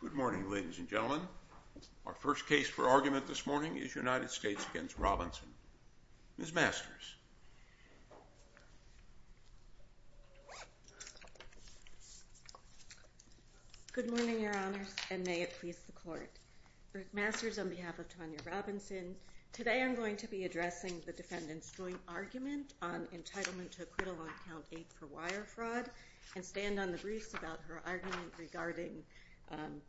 Good morning ladies and gentlemen. Our first case for argument this morning is United States v. Robinson. Ms. Masters. Good morning your honors and may it please the court. Rick Masters on behalf of Tonya Robinson. Today I'm going to be addressing the defendant's joint argument on entitlement to acquittal on count 8 for wire fraud and stand on the briefs about her argument regarding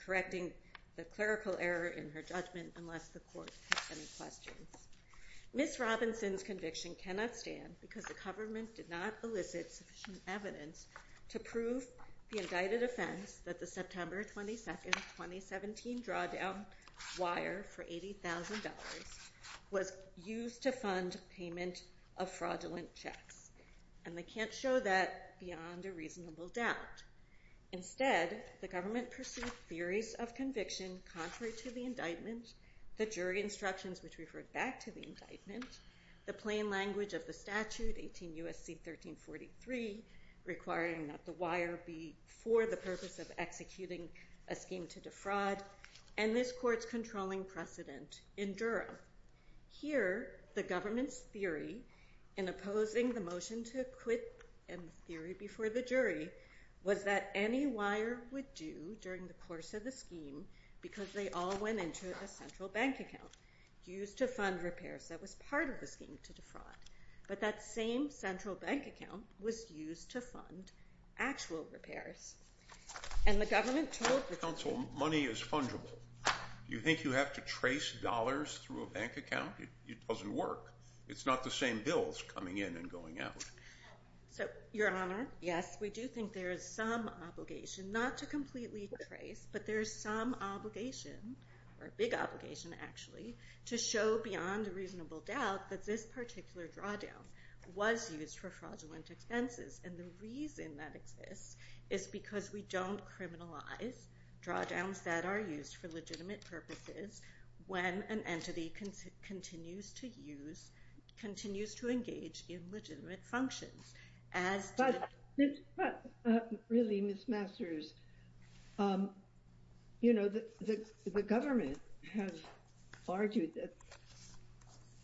correcting the clerical error in her judgment unless the court has any questions. Ms. Robinson's conviction cannot stand because the government did not elicit sufficient evidence to prove the indicted offense that the September 22, 2017 drawdown wire for $80,000 was used to fund payment of fraudulent checks and they can't show that beyond a reasonable doubt. Instead the government pursued theories of conviction contrary to the indictment, the jury instructions which referred back to the indictment, the plain language of the statute 18 U.S.C. 1343 requiring that the wire be used for the purpose of executing a scheme to defraud and this court's controlling precedent in Durham. Here the government's theory in opposing the motion to acquit in theory before the jury was that any wire would do during the course of the scheme because they all went into a central bank account used to fund repairs. And the government told the counsel money is fungible. You think you have to trace dollars through a bank account? It doesn't work. It's not the same bills coming in and going out. So your honor, yes we do think there is some obligation not to completely trace but there is some obligation or a big obligation actually to show beyond a reasonable doubt that this particular drawdown was used for fraudulent expenses and the reason that exists is because we don't criminalize drawdowns that are used for legitimate purposes when an entity continues to use continues to engage in legitimate functions. But really, Ms. Masters, you know, the government has argued that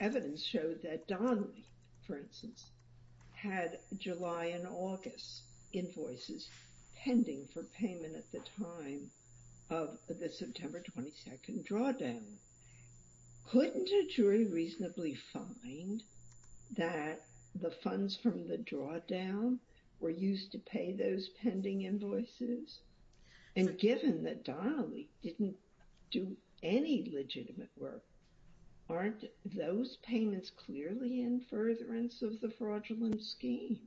evidence showed that Donley, for instance, had July and August invoices pending for payment at the time of the September 22nd drawdown. Couldn't a jury reasonably find that the funds from the drawdown were used to pay those pending invoices? And given that Donley didn't do any legitimate work, aren't those payments clearly in furtherance of the fraudulent scheme?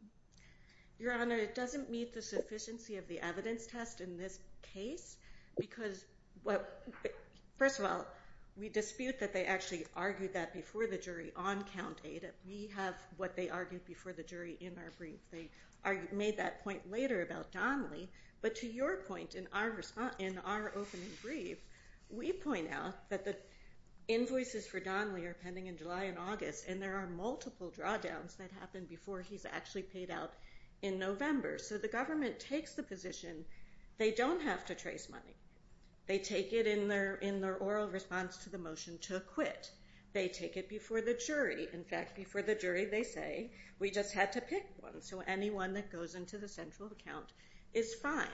Your honor, it doesn't meet the sufficiency of the evidence test in this case because, first of all, we dispute that they actually argued that before the jury on count 8. We have what they argued before the jury in our brief. And there are multiple drawdowns that happened before he's actually paid out in November. So the government takes the position they don't have to trace money. They take it in their oral response to the motion to acquit. They take it before the jury. In fact, before the jury they say, we just had to pick one. So anyone that goes into the central account is fine.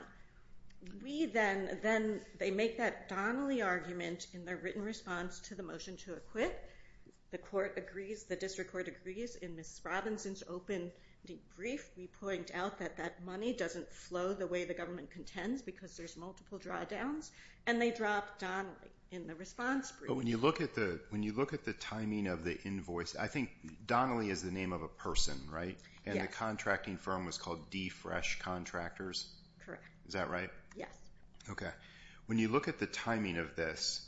We then, they make that Donley argument in their written response to the motion to acquit. The court agrees, the district court agrees in Ms. Robinson's open brief. We point out that that money doesn't flow the way the government contends because there's multiple drawdowns. And they drop Donley in the response brief. But when you look at the timing of the invoice, I think Donley is the name of a person, right? And the contracting firm was called Defresh Contractors. Is that right? Yes. Okay. When you look at the timing of this,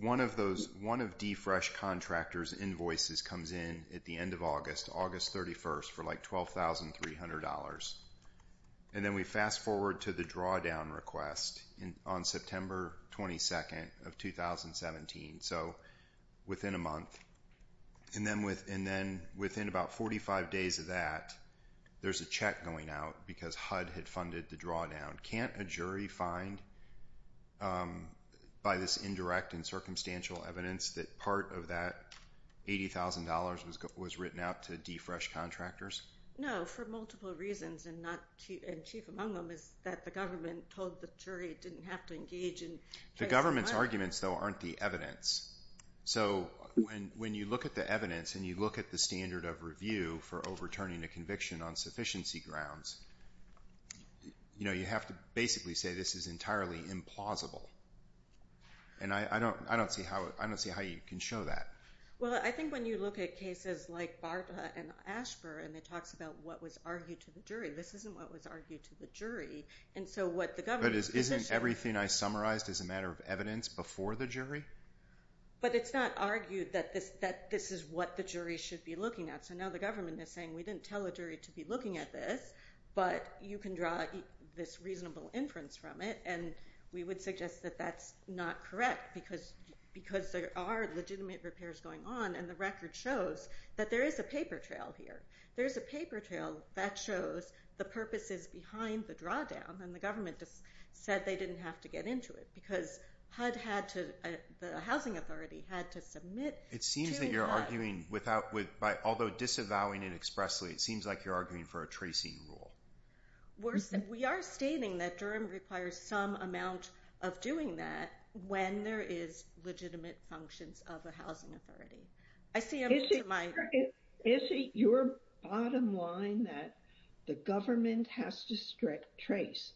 one of Defresh Contractors' invoices comes in at the end of August, August 31st for like $12,300. And then we fast forward to the drawdown request on September 22nd of 2017. So within a month. And then within about 45 days of that, there's a check going out because HUD had funded the drawdown. Can't a jury find by this indirect and circumstantial evidence that part of that $80,000 was written out to Defresh Contractors? No, for multiple reasons. And chief among them is that the government told the jury didn't have to engage in case money. The government's arguments though aren't the evidence. So when you look at the evidence and you look at the standard of review for overturning a conviction on sufficiency grounds, you have to basically say this is entirely implausible. And I don't see how you can show that. Well, I think when you look at cases like Barta and Asper and it talks about what was argued to the jury, this isn't what was argued to the jury. And so what the government's position… But isn't everything I summarized as a matter of evidence before the jury? But it's not argued that this is what the jury should be looking at. So now the government is saying we didn't tell a jury to be looking at this, but you can draw this reasonable inference from it. And we would suggest that that's not correct because there are legitimate repairs going on and the record shows that there is a paper trail here. There's a paper trail that shows the purposes behind the drawdown and the government just said they didn't have to get into it because HUD had to… the housing authority had to submit… It seems that you're arguing without… although disavowing it expressly, it seems like you're arguing for a tracing rule. We are stating that Durham requires some amount of doing that when there is legitimate functions of a housing authority. Is it your bottom line that the government has to trace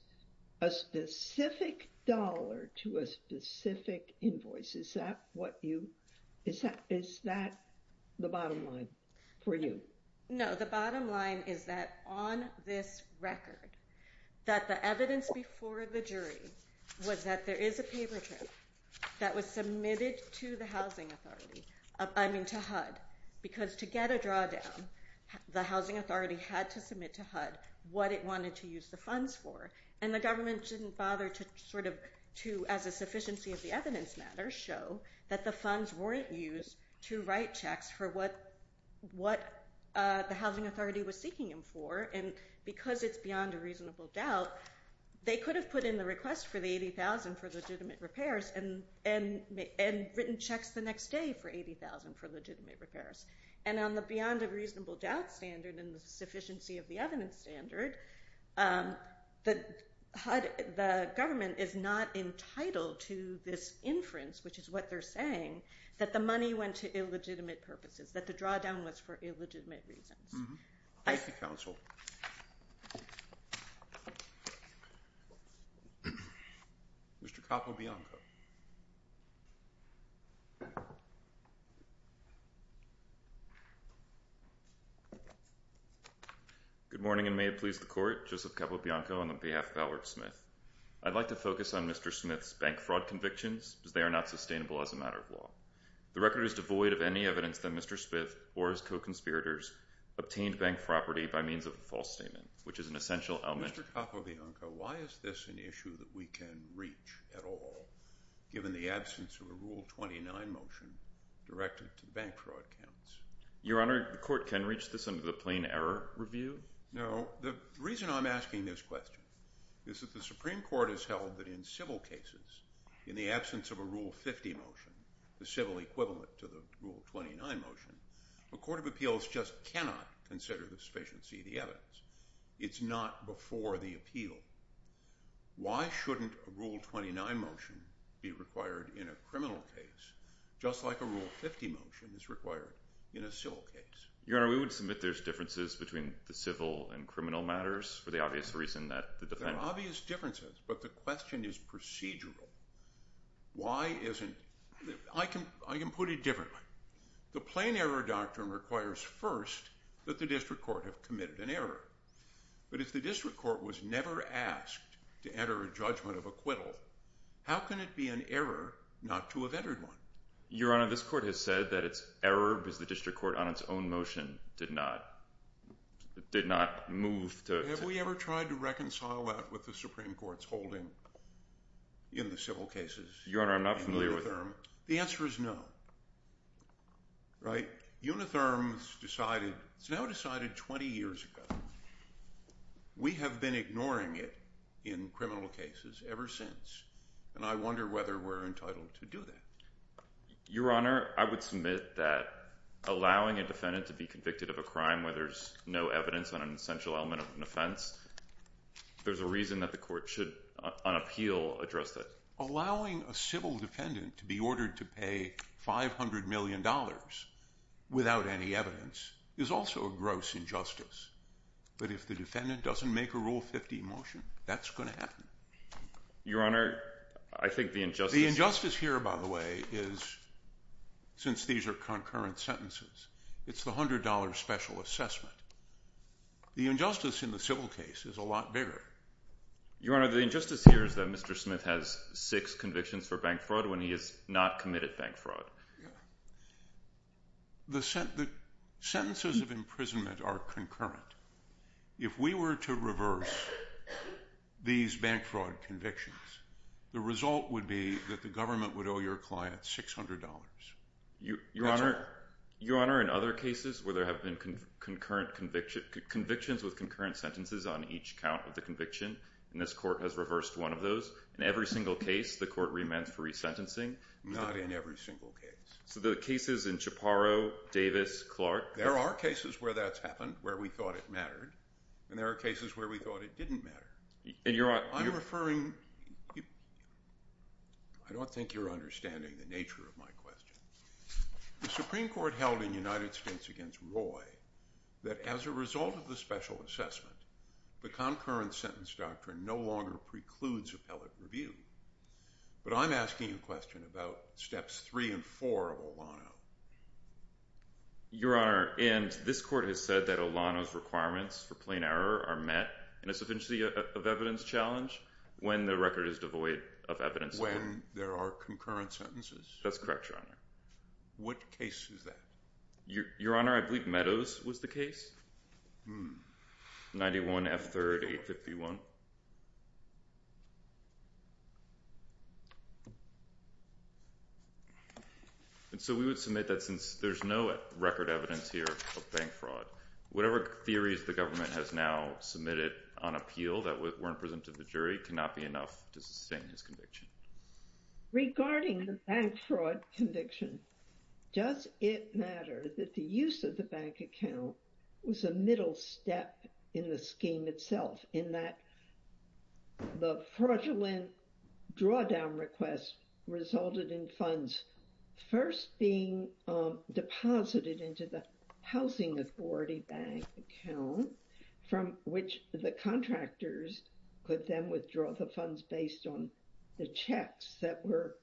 a specific dollar to a specific invoice? Is that what you… is that the bottom line for you? No, the bottom line is that on this record, that the evidence before the jury was that there is a paper trail that was submitted to the housing authority, I mean to HUD, because to get a drawdown, the housing authority had to submit to HUD what it wanted to use the funds for. And the government didn't bother to sort of to, as a sufficiency of the evidence matter, show that the funds weren't used to write checks for what the housing authority was seeking them for. And because it's beyond a reasonable doubt, they could have put in the request for the $80,000 for legitimate repairs and written checks the next day for $80,000 for legitimate repairs. And on the beyond a reasonable doubt standard and the sufficiency of the evidence standard, the government is not entitled to this inference, which is what they're saying, that the money went to illegitimate purposes, that the drawdown was for illegitimate reasons. Thank you, counsel. Mr. Capobianco. Good morning, and may it please the Court. Joseph Capobianco on behalf of Howard Smith. I'd like to focus on Mr. Smith's bank fraud convictions, as they are not sustainable as a matter of law. The record is devoid of any evidence that Mr. Smith or his co-conspirators obtained bank property by means of a false statement, which is an essential element. Mr. Capobianco, why is this an issue that we can reach at all, given the absence of a Rule 29 motion directed to bank fraud counts? Your Honor, the Court can reach this under the Plain Error Review. No, the reason I'm asking this question is that the Supreme Court has held that in civil cases, in the absence of a Rule 50 motion, the civil equivalent to the Rule 29 motion, a court of appeals just cannot consider the sufficiency of the evidence. It's not before the appeal. Why shouldn't a Rule 29 motion be required in a criminal case, just like a Rule 50 motion is required in a civil case? Your Honor, we would submit there's differences between the civil and criminal matters, for the obvious reason that the defendant— There are obvious differences, but the question is procedural. Why isn't—I can put it differently. The Plain Error Doctrine requires first that the district court have committed an error. But if the district court was never asked to enter a judgment of acquittal, how can it be an error not to have entered one? Your Honor, this Court has said that its error was the district court on its own motion did not move to— Have we ever tried to reconcile that with the Supreme Court's holding in the civil cases? Your Honor, I'm not familiar with— The answer is no, right? Unitherm's decided—it's now decided 20 years ago. We have been ignoring it in criminal cases ever since, and I wonder whether we're entitled to do that. Your Honor, I would submit that allowing a defendant to be convicted of a crime where there's no evidence on an essential element of an offense, there's a reason that the Court should, on appeal, address that. Allowing a civil defendant to be ordered to pay $500 million without any evidence is also a gross injustice. But if the defendant doesn't make a Rule 50 motion, that's going to happen. Your Honor, I think the injustice— The injustice here, by the way, is—since these are concurrent sentences—it's the $100 special assessment. The injustice in the civil case is a lot bigger. Your Honor, the injustice here is that Mr. Smith has six convictions for bank fraud when he has not committed bank fraud. The sentences of imprisonment are concurrent. If we were to reverse these bank fraud convictions, the result would be that the government would owe your client $600. That's all. Your Honor, in other cases where there have been convictions with concurrent sentences on each count of the conviction, and this Court has reversed one of those, in every single case, the Court remends for resentencing. Not in every single case. So the cases in Chaparro, Davis, Clark— There are cases where that's happened where we thought it mattered, and there are cases where we thought it didn't matter. I'm referring—I don't think you're understanding the nature of my question. The Supreme Court held in United States v. Roy that as a result of the special assessment, the concurrent sentence doctrine no longer precludes appellate review. But I'm asking a question about Steps 3 and 4 of Olano. Your Honor, and this Court has said that Olano's requirements for plain error are met in a sufficiency of evidence challenge when the record is devoid of evidence. When there are concurrent sentences? That's correct, Your Honor. What case is that? Your Honor, I believe Meadows was the case, 91 F. 3rd, 851. And so we would submit that since there's no record evidence here of bank fraud, whatever theories the government has now submitted on appeal that weren't presented to the jury cannot be enough to sustain his conviction. Regarding the bank fraud conviction, does it matter that the use of the bank account was a middle step in the scheme itself, in that the fraudulent drawdown request resulted in funds first being deposited into the housing authority bank account, from which the contractors could then withdraw the funds based on the checks that were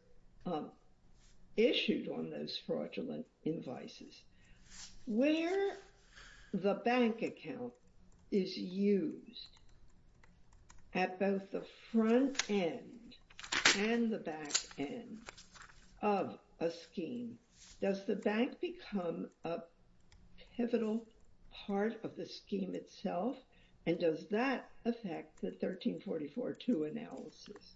issued on those fraudulent invoices? Where the bank account is used at both the front end and the back end of a scheme, does the bank become a pivotal part of the scheme itself? And does that affect the 1344-2 analysis?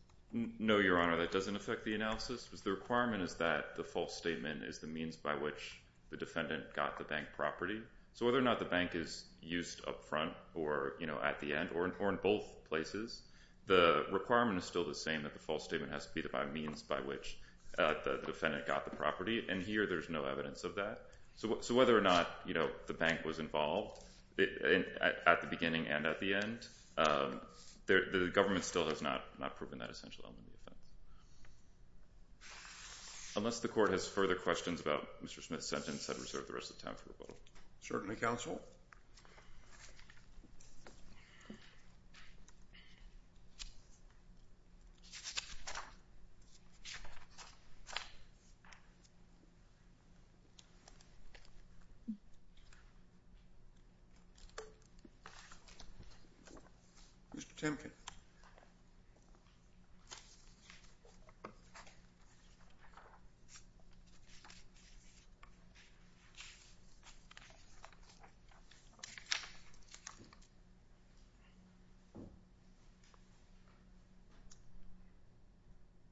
No, Your Honor, that doesn't affect the analysis. The requirement is that the false statement is the means by which the defendant got the bank property. So whether or not the bank is used up front or at the end or in both places, the requirement is still the same that the false statement has to be the means by which the defendant got the property. And here there's no evidence of that. So whether or not the bank was involved at the beginning and at the end, the government still has not proven that essential element of the crime. Unless the Court has further questions about Mr. Smith's sentence, I'd reserve the rest of the time for rebuttal. Certainly, Counsel. Mr. Temkin.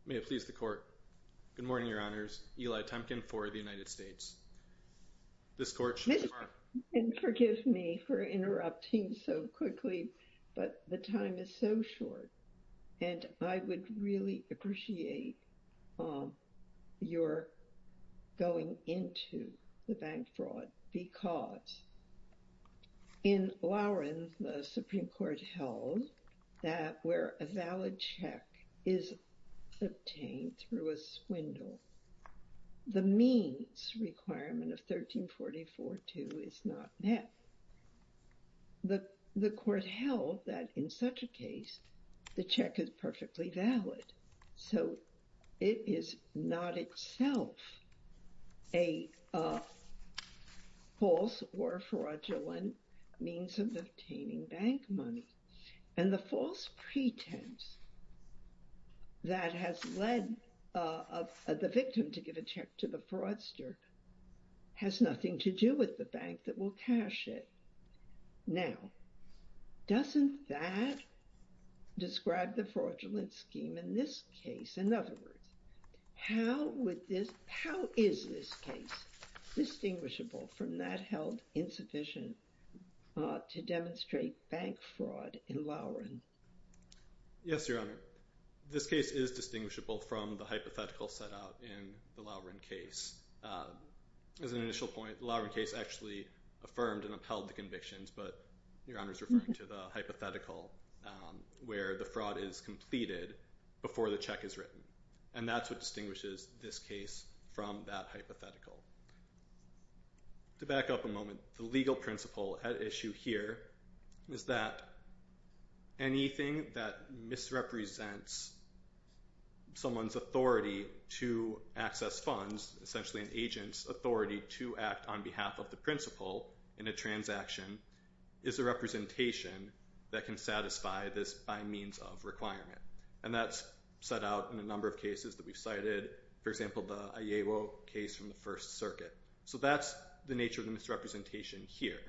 May it please the Court. Good morning, Your Honors. Eli Temkin for the United States. This Court, Your Honor. Mr. Temkin, forgive me for interrupting so quickly, but the time is so short. And I would really appreciate your going into the bank fraud. Because in Lowren, the Supreme Court held that where a valid check is obtained through a swindle, the means requirement of 1344-2 is not met. The Court held that in such a case, the check is perfectly valid. So it is not itself a false or fraudulent means of obtaining bank money. And the false pretense that has led the victim to give a check to the fraudster has nothing to do with the bank that will cash it. Now, doesn't that describe the fraudulent scheme in this case? In other words, how is this case distinguishable from that held insufficient to demonstrate bank fraud in Lowren? Yes, Your Honor. This case is distinguishable from the hypothetical set out in the Lowren case. As an initial point, the Lowren case actually affirmed and upheld the convictions. But Your Honor is referring to the hypothetical where the fraud is completed before the check is written. And that's what distinguishes this case from that hypothetical. To back up a moment, the legal principle at issue here is that anything that misrepresents someone's authority to access funds, essentially an agent's authority to act on behalf of the principal in a transaction, is a representation that can satisfy this by means of requirement. And that's set out in a number of cases that we've cited. For example, the Ayewo case from the First Circuit. So that's the nature of the misrepresentation here.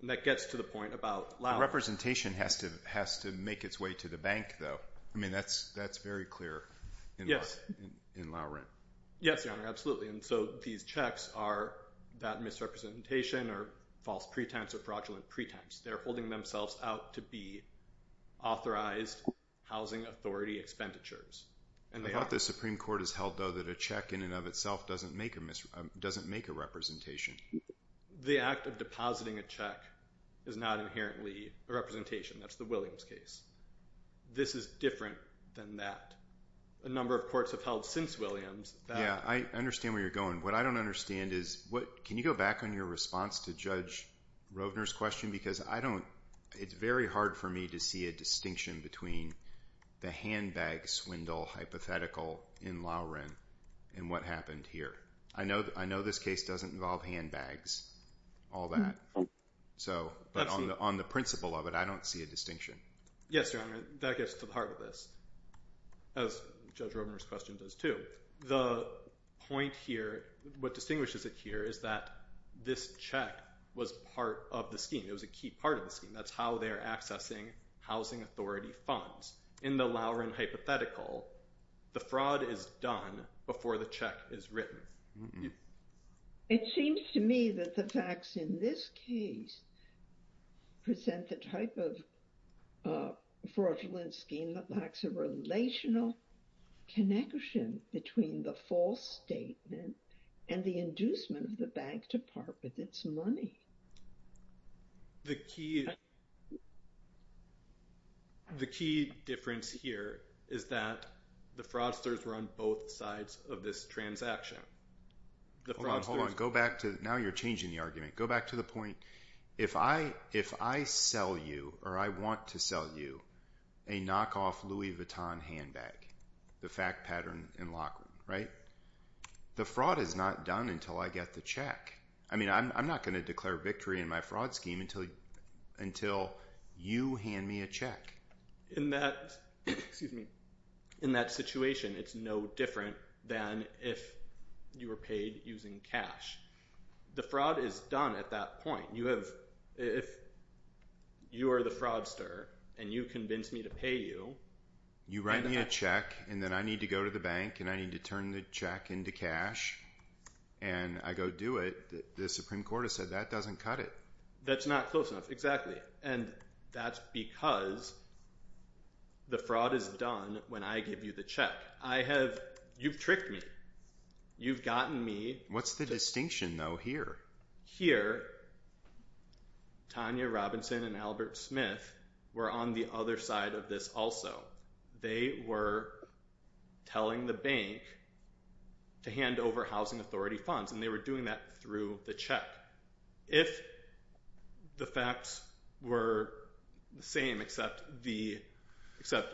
And that gets to the point about Lowren. The representation has to make its way to the bank, though. I mean, that's very clear in Lowren. Yes, Your Honor, absolutely. And so these checks are that misrepresentation or false pretense or fraudulent pretense. They're holding themselves out to be authorized housing authority expenditures. I thought the Supreme Court has held, though, that a check in and of itself doesn't make a representation. The act of depositing a check is not inherently a representation. That's the Williams case. This is different than that. A number of courts have held since Williams. Yeah, I understand where you're going. What I don't understand is can you go back on your response to Judge Rovner's question? Because it's very hard for me to see a distinction between the handbag swindle hypothetical in Lowren and what happened here. I know this case doesn't involve handbags, all that. But on the principle of it, I don't see a distinction. Yes, Your Honor, that gets to the heart of this, as Judge Rovner's question does too. The point here, what distinguishes it here, is that this check was part of the scheme. It was a key part of the scheme. That's how they're accessing housing authority funds. In the Lowren hypothetical, the fraud is done before the check is written. It seems to me that the facts in this case present the type of fraudulent scheme that lacks a relational connection between the false statement and the inducement of the bank to part with its money. The key difference here is that the fraudsters were on both sides of this transaction. Now you're changing the argument. Go back to the point. If I sell you or I want to sell you a knockoff Louis Vuitton handbag, the fact pattern in Lockwood, right? The fraud is not done until I get the check. I'm not going to declare victory in my fraud scheme until you hand me a check. In that situation, it's no different than if you were paid using cash. The fraud is done at that point. If you are the fraudster and you convince me to pay you… You write me a check and then I need to go to the bank and I need to turn the check into cash and I go do it. The Supreme Court has said that doesn't cut it. That's not close enough. Exactly. And that's because the fraud is done when I give you the check. You've tricked me. You've gotten me… What's the distinction though here? Here, Tanya Robinson and Albert Smith were on the other side of this also. They were telling the bank to hand over Housing Authority funds and they were doing that through the check. If the facts were the same except Mr.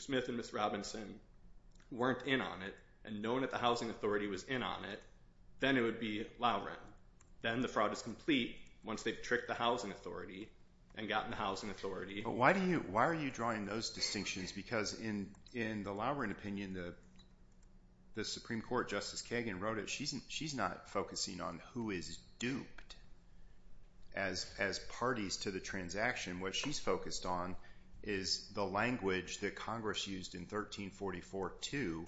Smith and Ms. Robinson weren't in on it and no one at the Housing Authority was in on it, then it would be Lowren. Then the fraud is complete once they've tricked the Housing Authority and gotten the Housing Authority. Why are you drawing those distinctions because in the Lowren opinion, the Supreme Court Justice Kagan wrote it. She's not focusing on who is duped as parties to the transaction. What she's focused on is the language that Congress used in 1344 too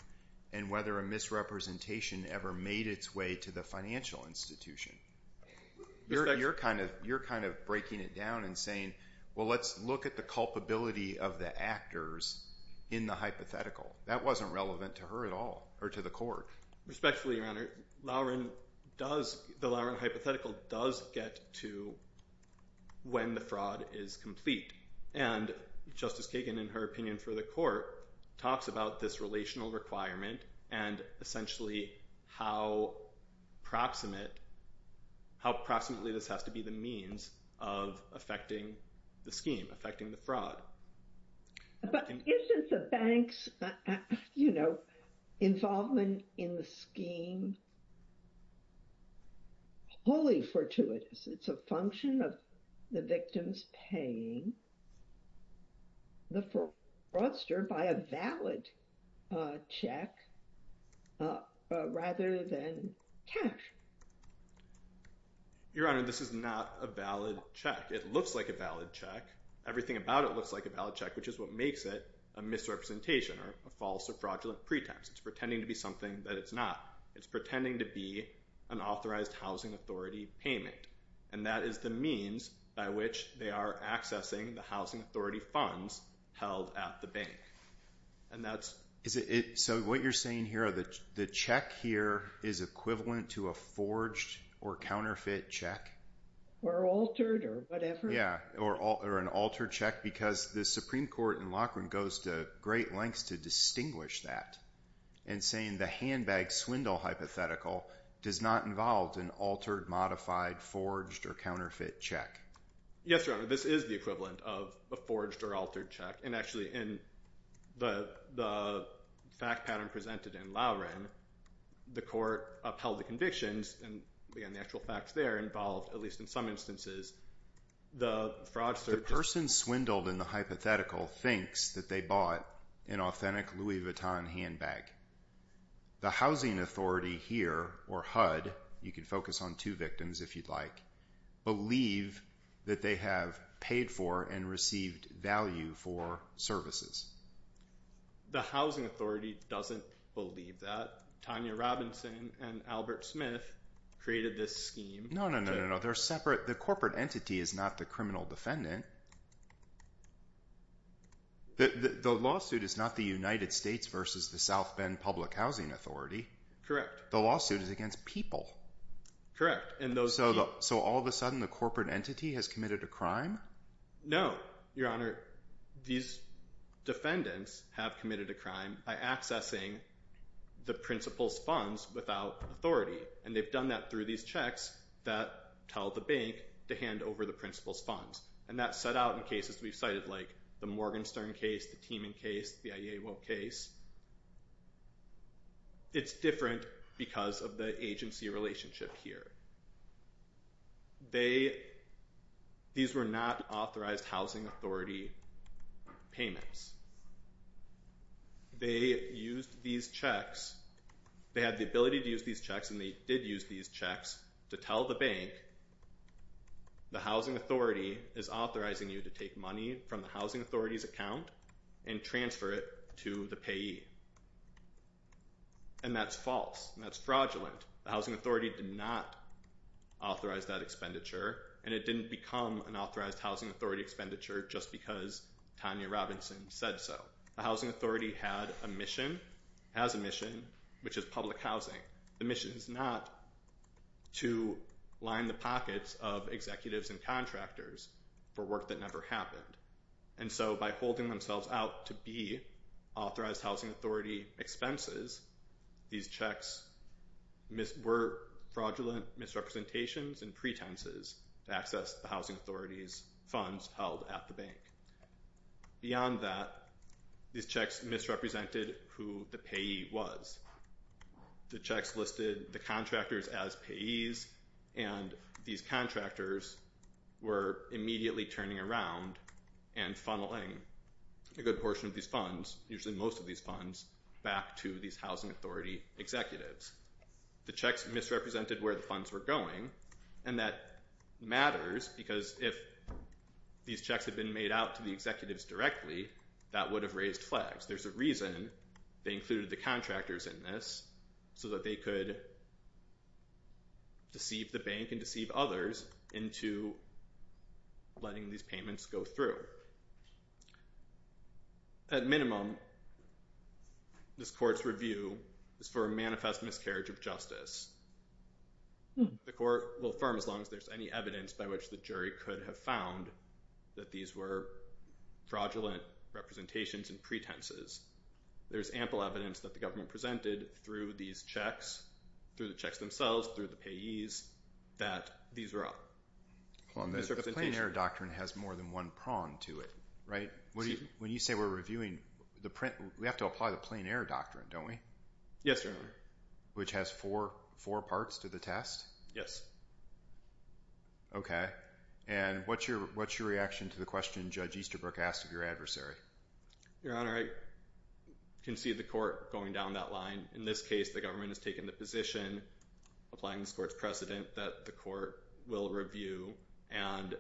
and whether a misrepresentation ever made its way to the financial institution. You're kind of breaking it down and saying, well, let's look at the culpability of the actors in the hypothetical. That wasn't relevant to her at all or to the court. Respectfully, Your Honor, the Lowren hypothetical does get to when the fraud is complete. And Justice Kagan, in her opinion for the court, talks about this relational requirement and essentially how proximate, how proximately this has to be the means of affecting the scheme, affecting the fraud. But isn't the bank's involvement in the scheme wholly fortuitous? It's a function of the victims paying the fraudster by a valid check rather than cash. Your Honor, this is not a valid check. It looks like a valid check. Everything about it looks like a valid check, which is what makes it a misrepresentation or a false or fraudulent pretense. It's pretending to be something that it's not. It's pretending to be an authorized housing authority payment. And that is the means by which they are accessing the housing authority funds held at the bank. So what you're saying here, the check here is equivalent to a forged or counterfeit check? Or altered or whatever. Or an altered check? Because the Supreme Court in Loughran goes to great lengths to distinguish that in saying the handbag swindle hypothetical does not involve an altered, modified, forged, or counterfeit check. Yes, Your Honor. This is the equivalent of a forged or altered check. The fact pattern presented in Loughran, the court upheld the convictions and the actual facts there involved, at least in some instances, the fraudster… The person swindled in the hypothetical thinks that they bought an authentic Louis Vuitton handbag. The housing authority here, or HUD, you can focus on two victims if you'd like, believe that they have paid for and received value for services. The housing authority doesn't believe that. Tanya Robinson and Albert Smith created this scheme… No, no, no, no, no. They're separate. The corporate entity is not the criminal defendant. The lawsuit is not the United States versus the South Bend Public Housing Authority. The lawsuit is against people. So all of a sudden the corporate entity has committed a crime? No, Your Honor. These defendants have committed a crime by accessing the principal's funds without authority. And they've done that through these checks that tell the bank to hand over the principal's funds. And that's set out in cases we've cited, like the Morgenstern case, the Teeman case, the IEA Will case. It's different because of the agency relationship here. They… These were not authorized housing authority payments. They used these checks… They had the ability to use these checks, and they did use these checks to tell the bank, the housing authority is authorizing you to take money from the housing authority's account and transfer it to the payee. And that's false. That's fraudulent. The housing authority did not authorize that expenditure, and it didn't become an authorized housing authority expenditure just because Tanya Robinson said so. The housing authority had a mission, has a mission, which is public housing. The mission is not to line the pockets of executives and contractors for work that never happened. And so by holding themselves out to be authorized housing authority expenses, these checks were fraudulent misrepresentations and pretenses to access the housing authority's funds held at the bank. Beyond that, these checks misrepresented who the payee was. The checks listed the contractors as payees, and these contractors were immediately turning around and funneling a good portion of these funds, usually most of these funds, back to these housing authority executives. The checks misrepresented where the funds were going, and that matters because if these checks had been made out to the executives directly, that would have raised flags. There's a reason they included the contractors in this, so that they could deceive the bank and deceive others into letting these payments go through. At minimum, this court's review is for a manifest miscarriage of justice. The court will affirm as long as there's any evidence by which the jury could have found that these were fraudulent representations and pretenses. There's ample evidence that the government presented through these checks, through the checks themselves, through the payees, that these were up. The Plain Air Doctrine has more than one prong to it, right? When you say we're reviewing the print, we have to apply the Plain Air Doctrine, don't we? Yes, Your Honor. Which has four parts to the test? Yes. Okay, and what's your reaction to the question Judge Easterbrook asked of your adversary? Your Honor, I can see the court going down that line. In this case, the government has taken the position, applying this court's precedent, that the court will review. And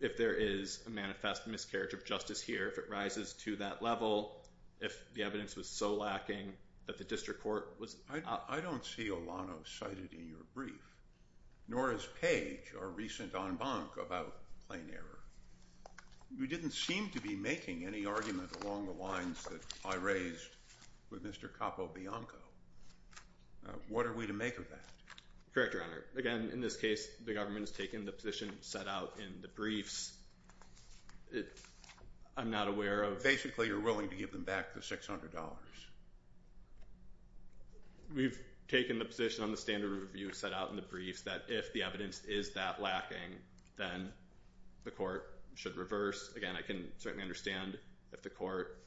if there is a manifest miscarriage of justice here, if it rises to that level, if the evidence was so lacking that the district court was— I don't see Olano cited in your brief, nor is Page or recent en banc about Plain Air. You didn't seem to be making any argument along the lines that I raised with Mr. Capobianco. What are we to make of that? Correct, Your Honor. Again, in this case, the government has taken the position set out in the briefs. I'm not aware of— Basically, you're willing to give them back the $600. We've taken the position on the standard review set out in the briefs that if the evidence is that lacking, then the court should reverse. Again, I can certainly understand if the court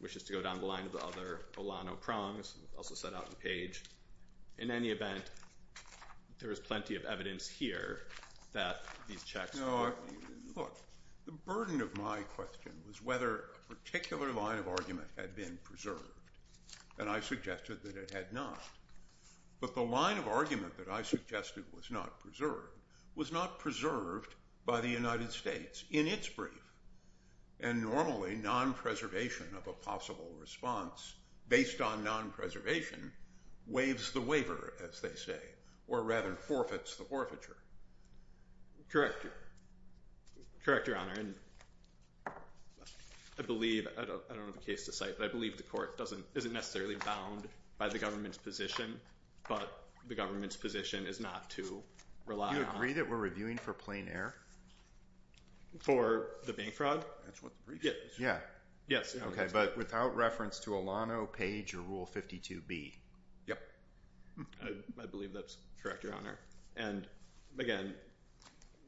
wishes to go down the line of the other Olano prongs, also set out in Page. In any event, there is plenty of evidence here that these checks— Look, the burden of my question was whether a particular line of argument had been preserved, and I suggested that it had not. But the line of argument that I suggested was not preserved was not preserved by the United States in its brief. And normally, non-preservation of a possible response based on non-preservation waives the waiver, as they say, or rather forfeits the forfeiture. Correct, Your Honor. And I believe—I don't have a case to cite, but I believe the court isn't necessarily bound by the government's position, but the government's position is not to rely on— Do you agree that we're reviewing for plain error? For the bank fraud? Yeah. Yes. Okay, but without reference to Olano, Page, or Rule 52B. Yep. I believe that's correct, Your Honor. And, again,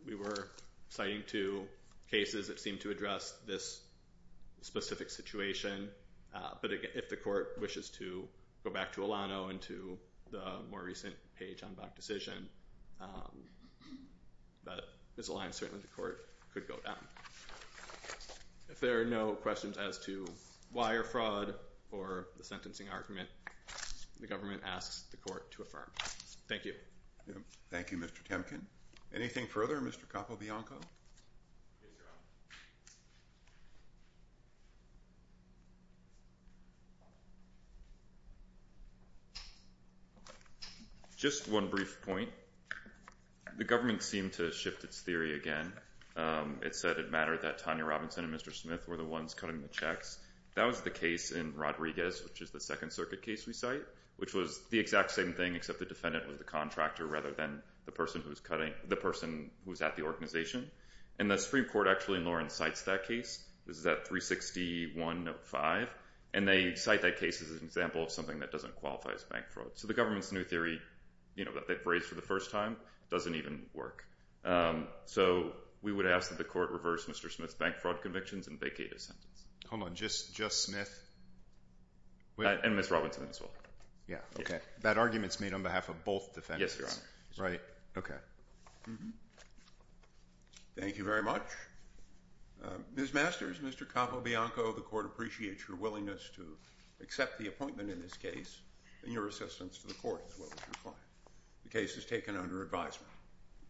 we were citing two cases that seemed to address this specific situation. But if the court wishes to go back to Olano and to the more recent Page-Enbach decision, that misalignment, certainly, the court could go down. If there are no questions as to why or fraud or the sentencing argument, the government asks the court to affirm. Thank you. Thank you, Mr. Temkin. Anything further, Mr. Capobianco? Yes, Your Honor. Just one brief point. The government seemed to shift its theory again. It said it mattered that Tanya Robinson and Mr. Smith were the ones cutting the checks. That was the case in Rodriguez, which is the Second Circuit case we cite, which was the exact same thing except the defendant was the contractor rather than the person who was at the organization. And the Supreme Court actually, in Lawrence, cites that case. This is at 361-05. And they cite that case as an example of something that doesn't qualify as bank fraud. So the government's new theory that they've raised for the first time doesn't even work. So we would ask that the court reverse Mr. Smith's bank fraud convictions and vacate his sentence. Hold on. Just Smith? And Ms. Robinson as well. Yeah. Okay. That argument's made on behalf of both defendants. Yes, Your Honor. Right. Okay. Thank you very much. Ms. Masters, Mr. Capobianco, the court appreciates your willingness to accept the appointment in this case and your assistance to the court as well as your client. The case is taken under advisement.